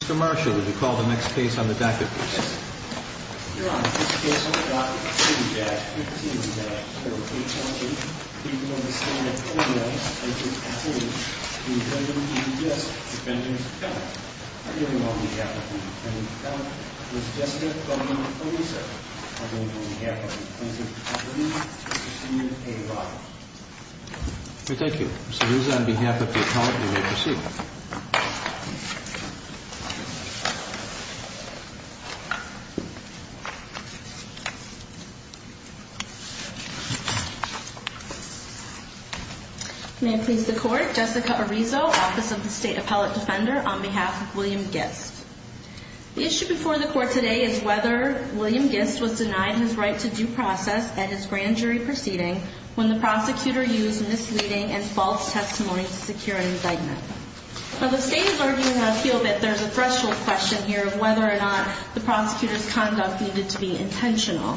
Mr. Marshall, would you call the next case on the docket, please? Your Honor, the next case on the docket is 2-15-4-8-1-3. We will be standing in a row in front of the defendant, G. G. Gist, defendant's account. I hereby call the defendant on the defendant's account, Ms. Jessica Bowman Polizza. I hereby call the defendant on the defendant's account, Ms. Jessica Bowman Polizza. Thank you. Ms. Polizza, on behalf of the appellant, you may proceed. May it please the Court, Jessica Arizo, Office of the State Appellate Defender, on behalf of William Gist. The issue before the Court today is whether William Gist was denied his right to due process at his grand jury proceeding when the prosecutor used misleading and false testimony to secure an indictment. Well, the State is arguing an appeal that there's a threshold question here of whether or not the prosecutor's conduct needed to be intentional.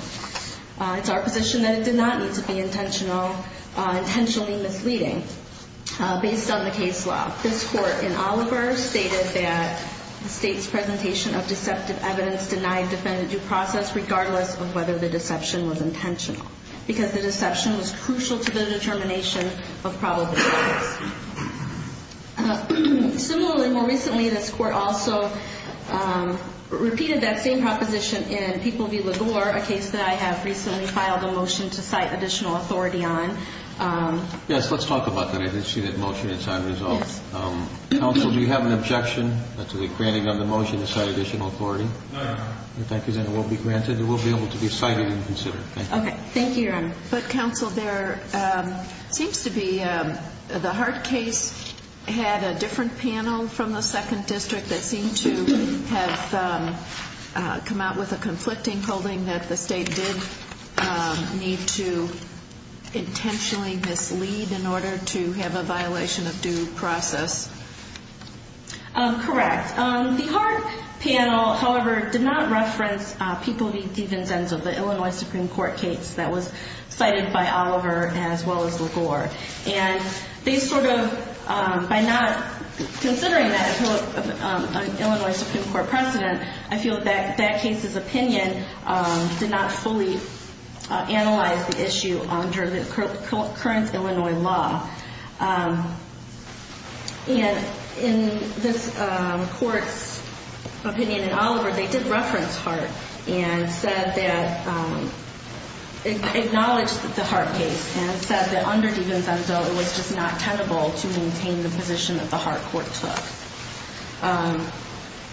It's our position that it did not need to be intentional, intentionally misleading. Based on the case law, this Court in Oliver stated that the State's presentation of deceptive evidence denied the defendant due process regardless of whether the deception was intentional, because the deception was crucial to the determination of probable cause. Similarly, more recently, this Court also repeated that same proposition in People v. LaGore, a case that I have recently filed a motion to cite additional authority on. Yes, let's talk about that. I didn't see that motion. It's unresolved. Counsel, do you have an objection to the granting of the motion to cite additional authority? No, Your Honor. If that consent will be granted, it will be able to be cited and considered. Thank you. Thank you, Your Honor. But, Counsel, there seems to be the Hart case had a different panel from the Second District that seemed to have come out with a conflicting holding that the State did need to intentionally mislead in order to have a violation of due process. Correct. The Hart panel, however, did not reference People v. DiVincenzo, the Illinois Supreme Court case that was cited by Oliver as well as LaGore. And they sort of, by not considering that Illinois Supreme Court precedent, I feel that that case's opinion did not fully analyze the issue under the current Illinois law. And in this court's opinion in Oliver, they did reference Hart and said that, acknowledged the Hart case and said that under DiVincenzo, it was just not tenable to maintain the position that the Hart court took.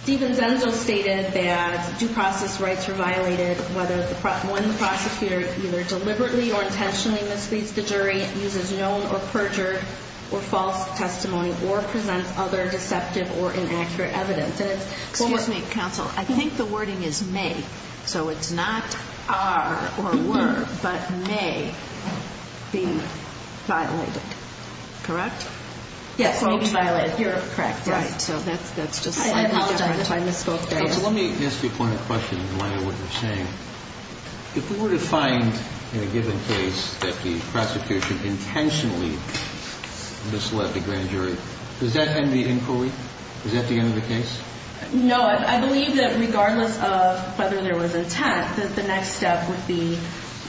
DiVincenzo stated that due process rights were violated whether one prosecutor either deliberately or intentionally misleads the jury, uses known or perjured or false testimony, or presents other deceptive or inaccurate evidence. Excuse me, Counsel. I think the wording is may. So it's not are or were, but may be violated. Correct? Yes, may be violated. Correct. Right. So that's just slightly different. I misspoke there. Let me ask you a point of question in light of what you're saying. If we were to find in a given case that the prosecutor intentionally misled the grand jury, does that end the inquiry? Is that the end of the case? No. I believe that regardless of whether there was intent, that the next step would be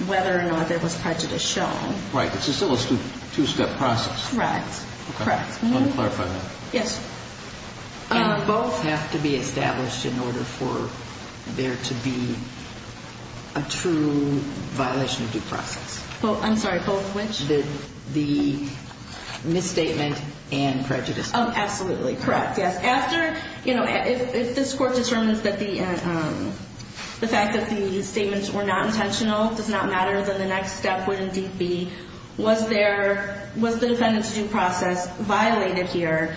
whether or not there was prejudice shown. Right. It's a two-step process. Correct. Correct. Let me clarify that. Yes. Both have to be established in order for there to be a true violation of due process. I'm sorry. Both which? The misstatement and prejudice. Absolutely. Correct. Yes. After, you know, if this court determines that the fact that the statements were not intentional does not matter, then the next step would indeed be was there, was the defendant's due process violated here?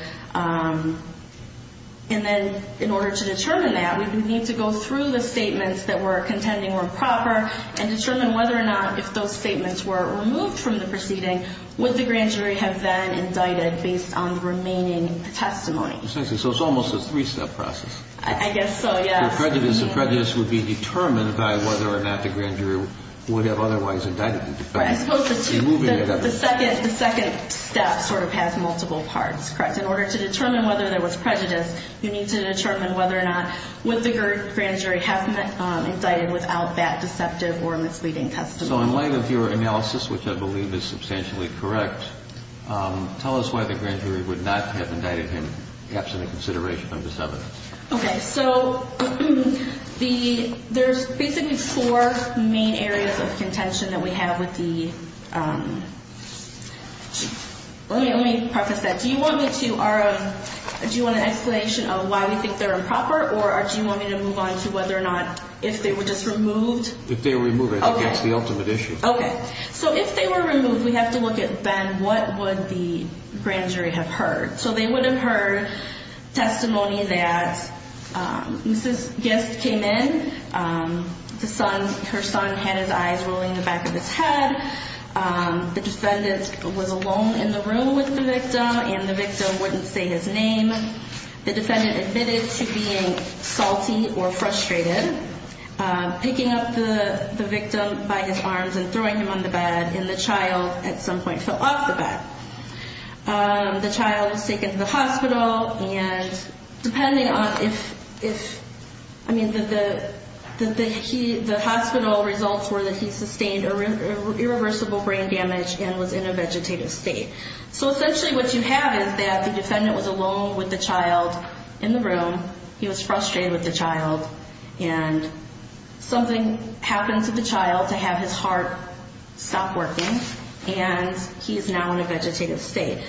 And then in order to determine that, we would need to go through the statements that were contending were proper and determine whether or not if those statements were removed from the proceeding, would the grand jury have then indicted based on the remaining testimony? So it's almost a three-step process. I guess so, yes. The prejudice would be determined by whether or not the grand jury would have otherwise indicted the defendant. Right. I suppose the second step sort of has multiple parts. Correct. In order to determine whether there was prejudice, you need to determine whether or not would the grand jury have indicted without that deceptive or misleading testimony. So in light of your analysis, which I believe is substantially correct, tell us why the grand jury would not have indicted him, perhaps in the consideration of this evidence. Okay, so there's basically four main areas of contention that we have with the... Let me preface that. Do you want an explanation of why we think they're improper, or do you want me to move on to whether or not if they were just removed? If they were removed, I think that's the ultimate issue. Okay. So if they were removed, we have to look at, Ben, what would the grand jury have heard? So they would have heard testimony that this guest came in, her son had his eyes rolling in the back of his head, the defendant was alone in the room with the victim, and the victim wouldn't say his name. The defendant admitted to being salty or frustrated, picking up the victim by his arms and throwing him on the bed, and the child at some point fell off the bed. The child was taken to the hospital, and depending on if... I mean, the hospital results were that he sustained irreversible brain damage and was in a vegetative state. So essentially what you have is that the defendant was alone with the child in the room, he was frustrated with the child, and something happened to the child to have his heart stop working, and he is now in a vegetative state.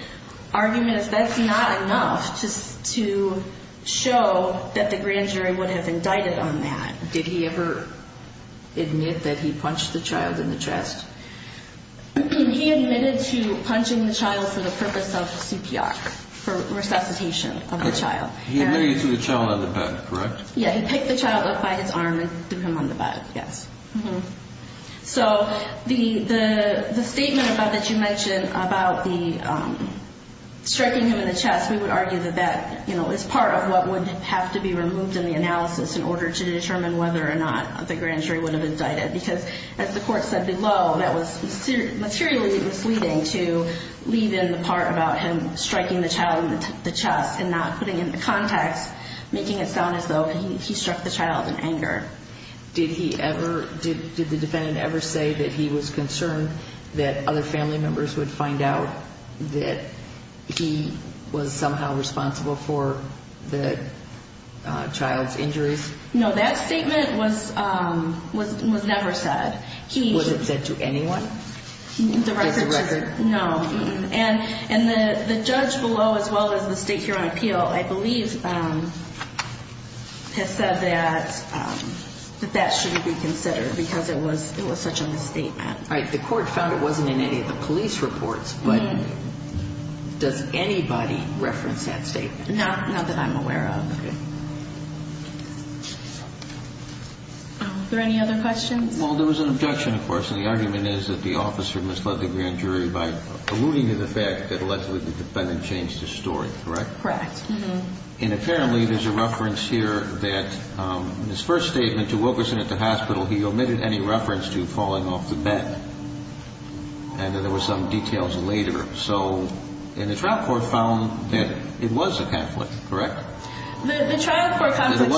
Argument is that's not enough to show that the grand jury would have indicted on that. Did he ever admit that he punched the child in the chest? He admitted to punching the child for the purpose of CPR, for resuscitation of the child. He admitted to the child on the bed, correct? Yeah, he picked the child up by his arm and threw him on the bed, yes. So the statement that you mentioned about the striking him in the chest, we would argue that that is part of what would have to be removed in the analysis in order to determine whether or not the grand jury would have indicted, because as the court said below, that was materially misleading to leave in the part about him striking the child in the chest and not putting it into context, making it sound as though he struck the child in anger. Did he ever, did the defendant ever say that he was concerned that other family members would find out that he was somehow responsible for the child's injuries? No, that statement was never said. Was it said to anyone as a record? No. And the judge below, as well as the state here on appeal, I believe has said that that shouldn't be considered because it was such a misstatement. All right, the court found it wasn't in any of the police reports, but does anybody reference that statement? Not that I'm aware of. Okay. Are there any other questions? Well, there was an objection, of course, and the argument is that the officer misled the grand jury by alluding to the fact that allegedly the defendant changed his story, correct? Correct. And apparently there's a reference here that in his first statement to Wilkerson at the hospital, he omitted any reference to falling off the bed, and that there were some details later. And the trial court found that it was a conflict, correct? The trial court found that there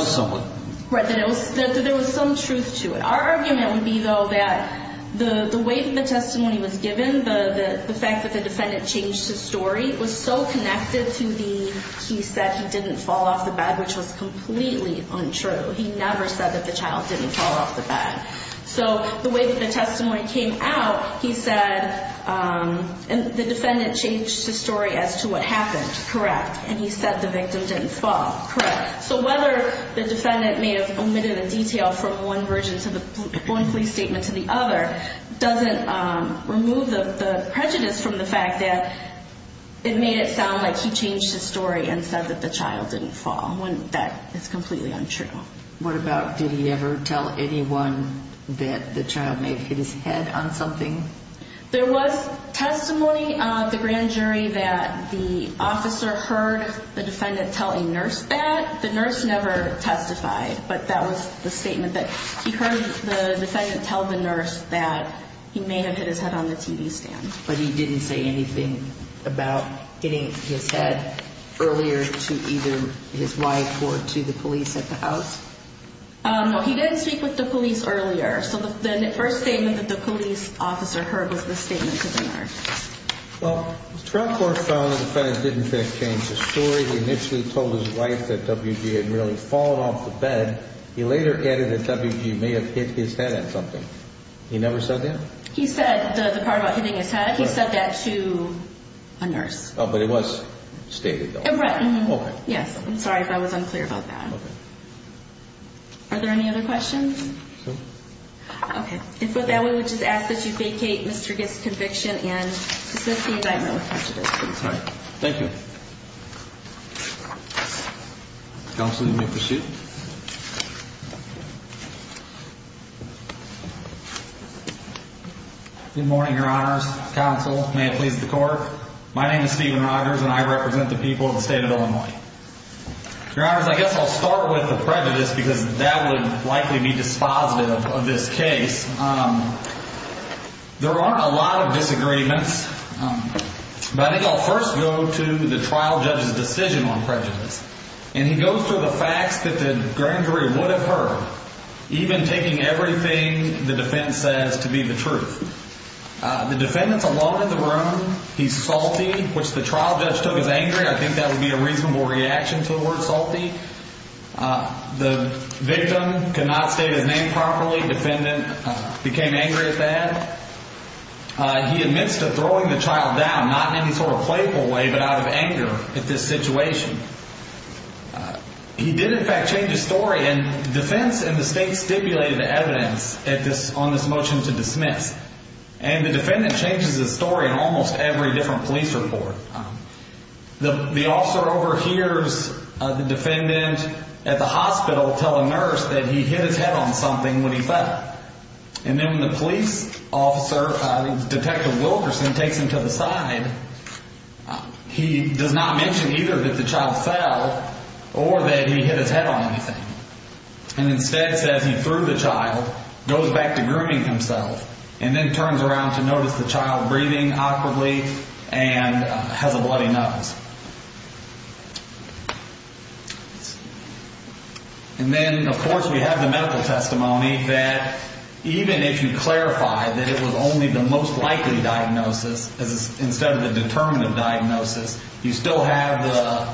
was some truth to it. Our argument would be, though, that the way the testimony was given, the fact that the defendant changed his story, was so connected to the, he said he didn't fall off the bed, which was completely untrue. He never said that the child didn't fall off the bed. So the way that the testimony came out, he said the defendant changed his story as to what happened. Correct. And he said the victim didn't fall. Correct. So whether the defendant may have omitted a detail from one police statement to the other doesn't remove the prejudice from the fact that it made it sound like he changed his story and said that the child didn't fall. That is completely untrue. What about did he ever tell anyone that the child may have hit his head on something? There was testimony of the grand jury that the officer heard the defendant tell a nurse that. The nurse never testified, but that was the statement that he heard the defendant tell the nurse that he may have hit his head on the TV stand. But he didn't say anything about hitting his head earlier to either his wife or to the police at the house? No, he didn't speak with the police earlier. So the first statement that the police officer heard was the statement to the nurse. Well, the trial court found the defendant didn't change his story. He initially told his wife that W.G. had really fallen off the bed. He later added that W.G. may have hit his head on something. He never said that? He said the part about hitting his head, he said that to a nurse. Oh, but it was stated, though. Correct. Yes. I'm sorry if I was unclear about that. Okay. Are there any other questions? No. Okay. And for that, we would just ask that you vacate Mr. Gitts' conviction and dismiss the indictment with prejudice. All right. Thank you. Counsel, you may proceed. Good morning, Your Honors. Counsel, may it please the Court. My name is Stephen Rogers, and I represent the people of the state of Illinois. Your Honors, I guess I'll start with the prejudice because that would likely be dispositive of this case. There are a lot of disagreements, but I think I'll first go to the trial judge's decision on prejudice. And he goes through the facts that the grand jury would have heard, even taking everything the defendant says to be the truth. The defendant's alone in the room. He's salty, which the trial judge took as angry. I think that would be a reasonable reaction to the word salty. The victim could not state his name properly. Defendant became angry at that. He admits to throwing the child down, not in any sort of playful way, but out of anger at this situation. He did, in fact, change his story, and defense and the state stipulated the evidence on this motion to dismiss. And the defendant changes his story in almost every different police report. The officer overhears the defendant at the hospital tell a nurse that he hit his head on something when he fell. And then when the police officer, Detective Wilkerson, takes him to the side, he does not mention either that the child fell or that he hit his head on anything. And instead says he threw the child, goes back to grooming himself, and then turns around to notice the child breathing awkwardly and has a bloody nose. And then, of course, we have the medical testimony that even if you clarify that it was only the most likely diagnosis instead of the determinative diagnosis, you still have the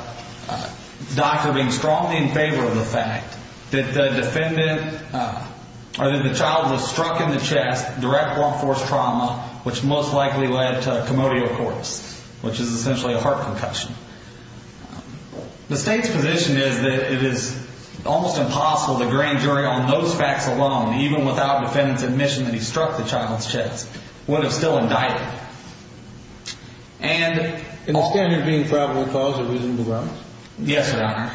doctor being strongly in favor of the fact that the child was struck in the chest, direct law enforcement trauma, which most likely led to a commodity of course, which is essentially a heart concussion. The state's position is that it is almost impossible the grand jury on those facts alone, even without defendant's admission that he struck the child's chest, would have still indicted him. And the standard being probable cause or reasonable grounds? Yes, Your Honor,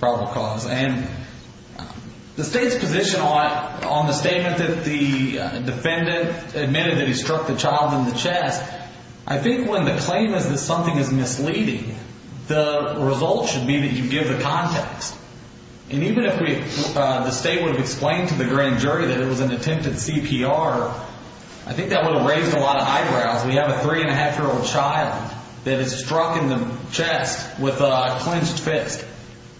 probable cause. And the state's position on the statement that the defendant admitted that he struck the child in the chest, I think when the claim is that something is misleading, the result should be that you give the context. And even if the state would have explained to the grand jury that it was an attempted CPR, I think that would have raised a lot of eyebrows. We have a three-and-a-half-year-old child that is struck in the chest with a clenched fist.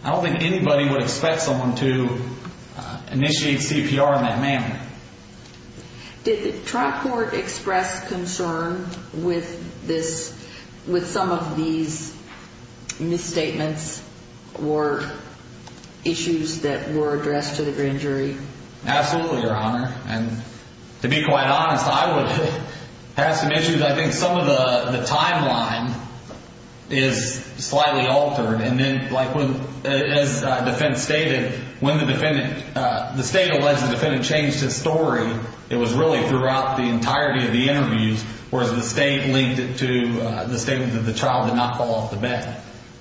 I don't think anybody would expect someone to initiate CPR in that manner. Did the trial court express concern with this, with some of these misstatements or issues that were addressed to the grand jury? Absolutely, Your Honor. And to be quite honest, I would have some issues. I think some of the timeline is slightly altered. And then, like, as the defense stated, when the defendant, the state alleged the defendant changed his story, it was really throughout the entirety of the interviews, whereas the state linked it to the statement that the child did not fall off the bed,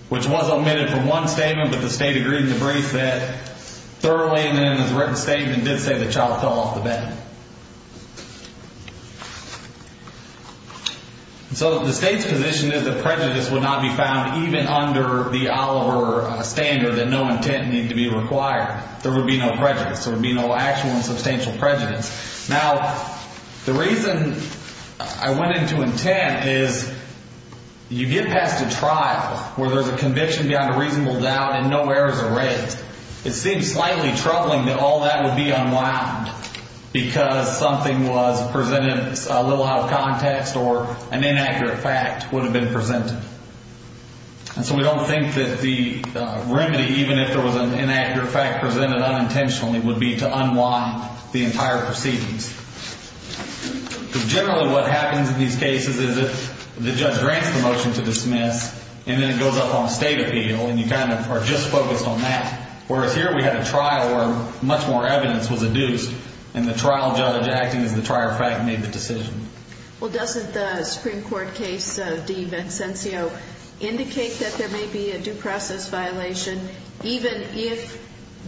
which was omitted from one statement, but the state agreed in the brief that thoroughly, and in the written statement, did say the child fell off the bed. So the state's position is that prejudice would not be found even under the Oliver standard, that no intent needed to be required. There would be no prejudice. There would be no actual and substantial prejudice. Now, the reason I went into intent is you get past a trial where there's a conviction beyond a reasonable doubt and no errors are raised, it seems slightly troubling that all that would be unwound because something was presented a little out of context or an inaccurate fact would have been presented. And so we don't think that the remedy, even if there was an inaccurate fact presented unintentionally, would be to unwind the entire proceedings. Because generally what happens in these cases is the judge grants the motion to dismiss, and then it goes up on state appeal, and you kind of are just focused on that, whereas here we had a trial where much more evidence was adduced, and the trial judge acting as the trial fact made the decision. Well, doesn't the Supreme Court case de Vincentio indicate that there may be a due process violation even if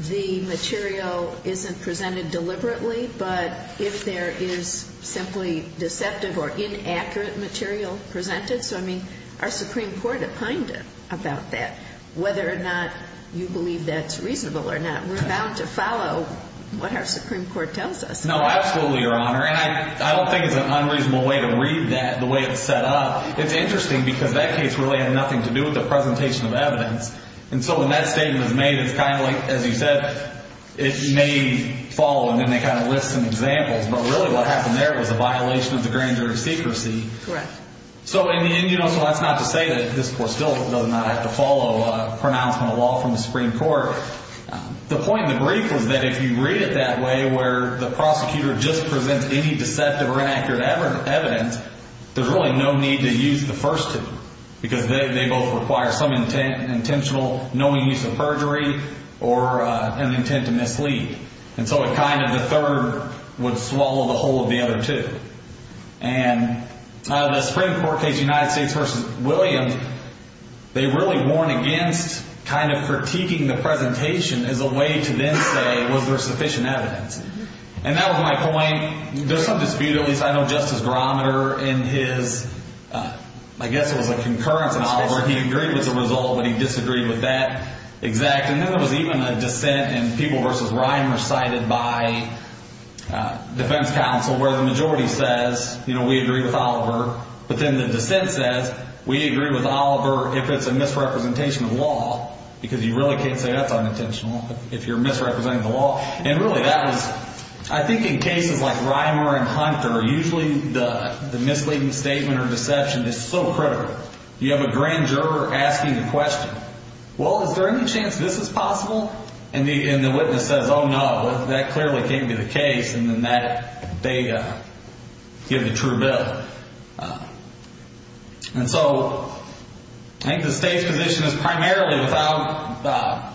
the material isn't presented deliberately, but if there is simply deceptive or inaccurate material presented? So, I mean, our Supreme Court opined about that, whether or not you believe that's reasonable or not. We're bound to follow what our Supreme Court tells us. No, absolutely, Your Honor. And I don't think it's an unreasonable way to read that, the way it's set up. It's interesting because that case really had nothing to do with the presentation of evidence. And so when that statement is made, it's kind of like, as you said, it may follow, and then they kind of list some examples. But really what happened there was a violation of the grand jury secrecy. Correct. So in the end, you know, so that's not to say that this Court still does not have to follow a pronouncement of law from the Supreme Court. The point of the brief was that if you read it that way, where the prosecutor just presents any deceptive or inaccurate evidence, there's really no need to use the first two, because they both require some intentional knowing use of perjury or an intent to mislead. And so it kind of, the third would swallow the whole of the other two. And the Supreme Court case, United States v. Williams, they really warn against kind of critiquing the presentation as a way to then say, was there sufficient evidence? And that was my point. I mean, there's some dispute. At least I know Justice Grometer in his, I guess it was a concurrence in Oliver, he agreed with the result, but he disagreed with that exact. And then there was even a dissent in People v. Ryan recited by defense counsel where the majority says, you know, we agree with Oliver. But then the dissent says, we agree with Oliver if it's a misrepresentation of law, because you really can't say that's unintentional if you're misrepresenting the law. And really that was, I think in cases like Reimer and Hunter, usually the misleading statement or deception is so critical. You have a grand juror asking the question, well, is there any chance this is possible? And the witness says, oh, no, that clearly can't be the case. And then they give the true bill. And so I think the State's position is primarily without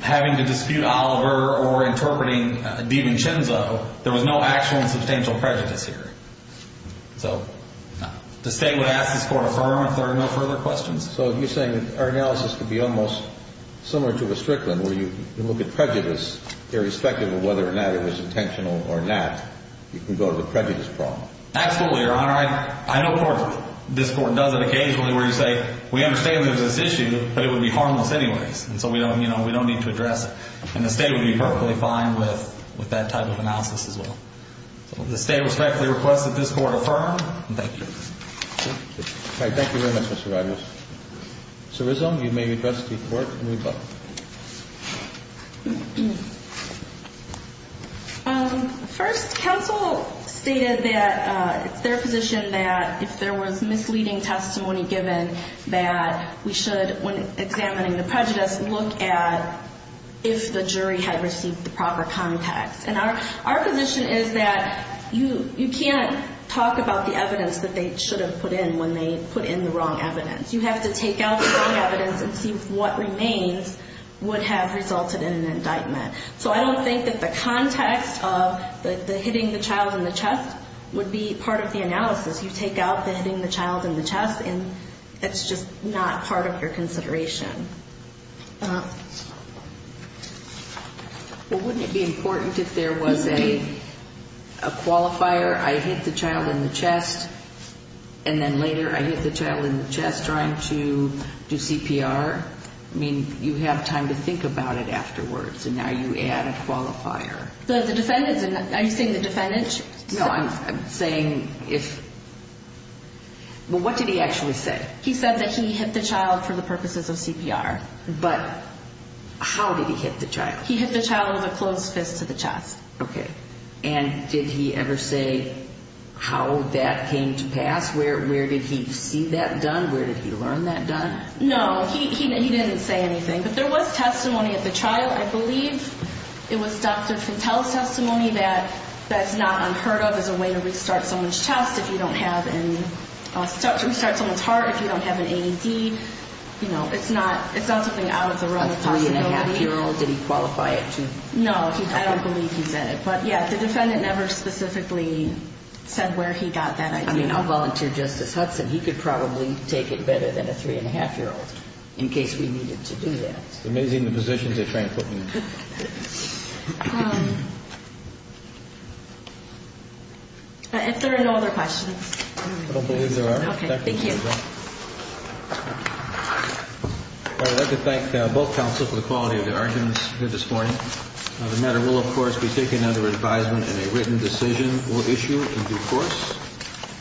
having to dispute Oliver or interpreting Deven Chinzo, there was no actual and substantial prejudice here. So the State would ask this court to affirm if there are no further questions. So you're saying our analysis could be almost similar to a Strickland where you look at prejudice irrespective of whether or not it was intentional or not. You can go to the prejudice problem. Absolutely, Your Honor. I know courts, this court does it occasionally where you say, we understand there's this issue, but it would be harmless anyways. And so we don't need to address it. And the State would be perfectly fine with that type of analysis as well. So the State respectfully requests that this court affirm. Thank you. Thank you very much, Mr. Reimer. Ms. Rizzo, you may address the court. First, counsel stated that it's their position that if there was misleading testimony given that we should, when examining the prejudice, look at if the jury had received the proper context. And our position is that you can't talk about the evidence that they should have put in when they put in the wrong evidence. You have to take out the wrong evidence and see what remains. What have resulted in an indictment. So I don't think that the context of the hitting the child in the chest would be part of the analysis. You take out the hitting the child in the chest, and it's just not part of your consideration. Well, wouldn't it be important if there was a qualifier, I hit the child in the chest, and then later I hit the child in the chest trying to do CPR? I mean, you have time to think about it afterwards, and now you add a qualifier. The defendant, are you saying the defendant? No, I'm saying if, well, what did he actually say? He said that he hit the child for the purposes of CPR. But how did he hit the child? He hit the child with a closed fist to the chest. Okay. And did he ever say how that came to pass? Where did he see that done? Where did he learn that done? No, he didn't say anything. But there was testimony at the trial. I believe it was Dr. Fattel's testimony that that's not unheard of as a way to restart someone's heart if you don't have an AED. It's not something out of the realm of possibility. A 3-1⁄2-year-old, did he qualify it to? No, I don't believe he did. But, yeah, the defendant never specifically said where he got that idea. I mean, I'll volunteer Justice Hudson. He could probably take it better than a 3-1⁄2-year-old in case we needed to do that. It's amazing the positions they try and put me in. If there are no other questions. I don't believe there are. Okay, thank you. I'd like to thank both counsel for the quality of their arguments here this morning. The matter will, of course, be taken under advisement and a written decision will issue in due course.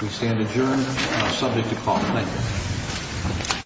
We stand adjourned and are subject to call to order.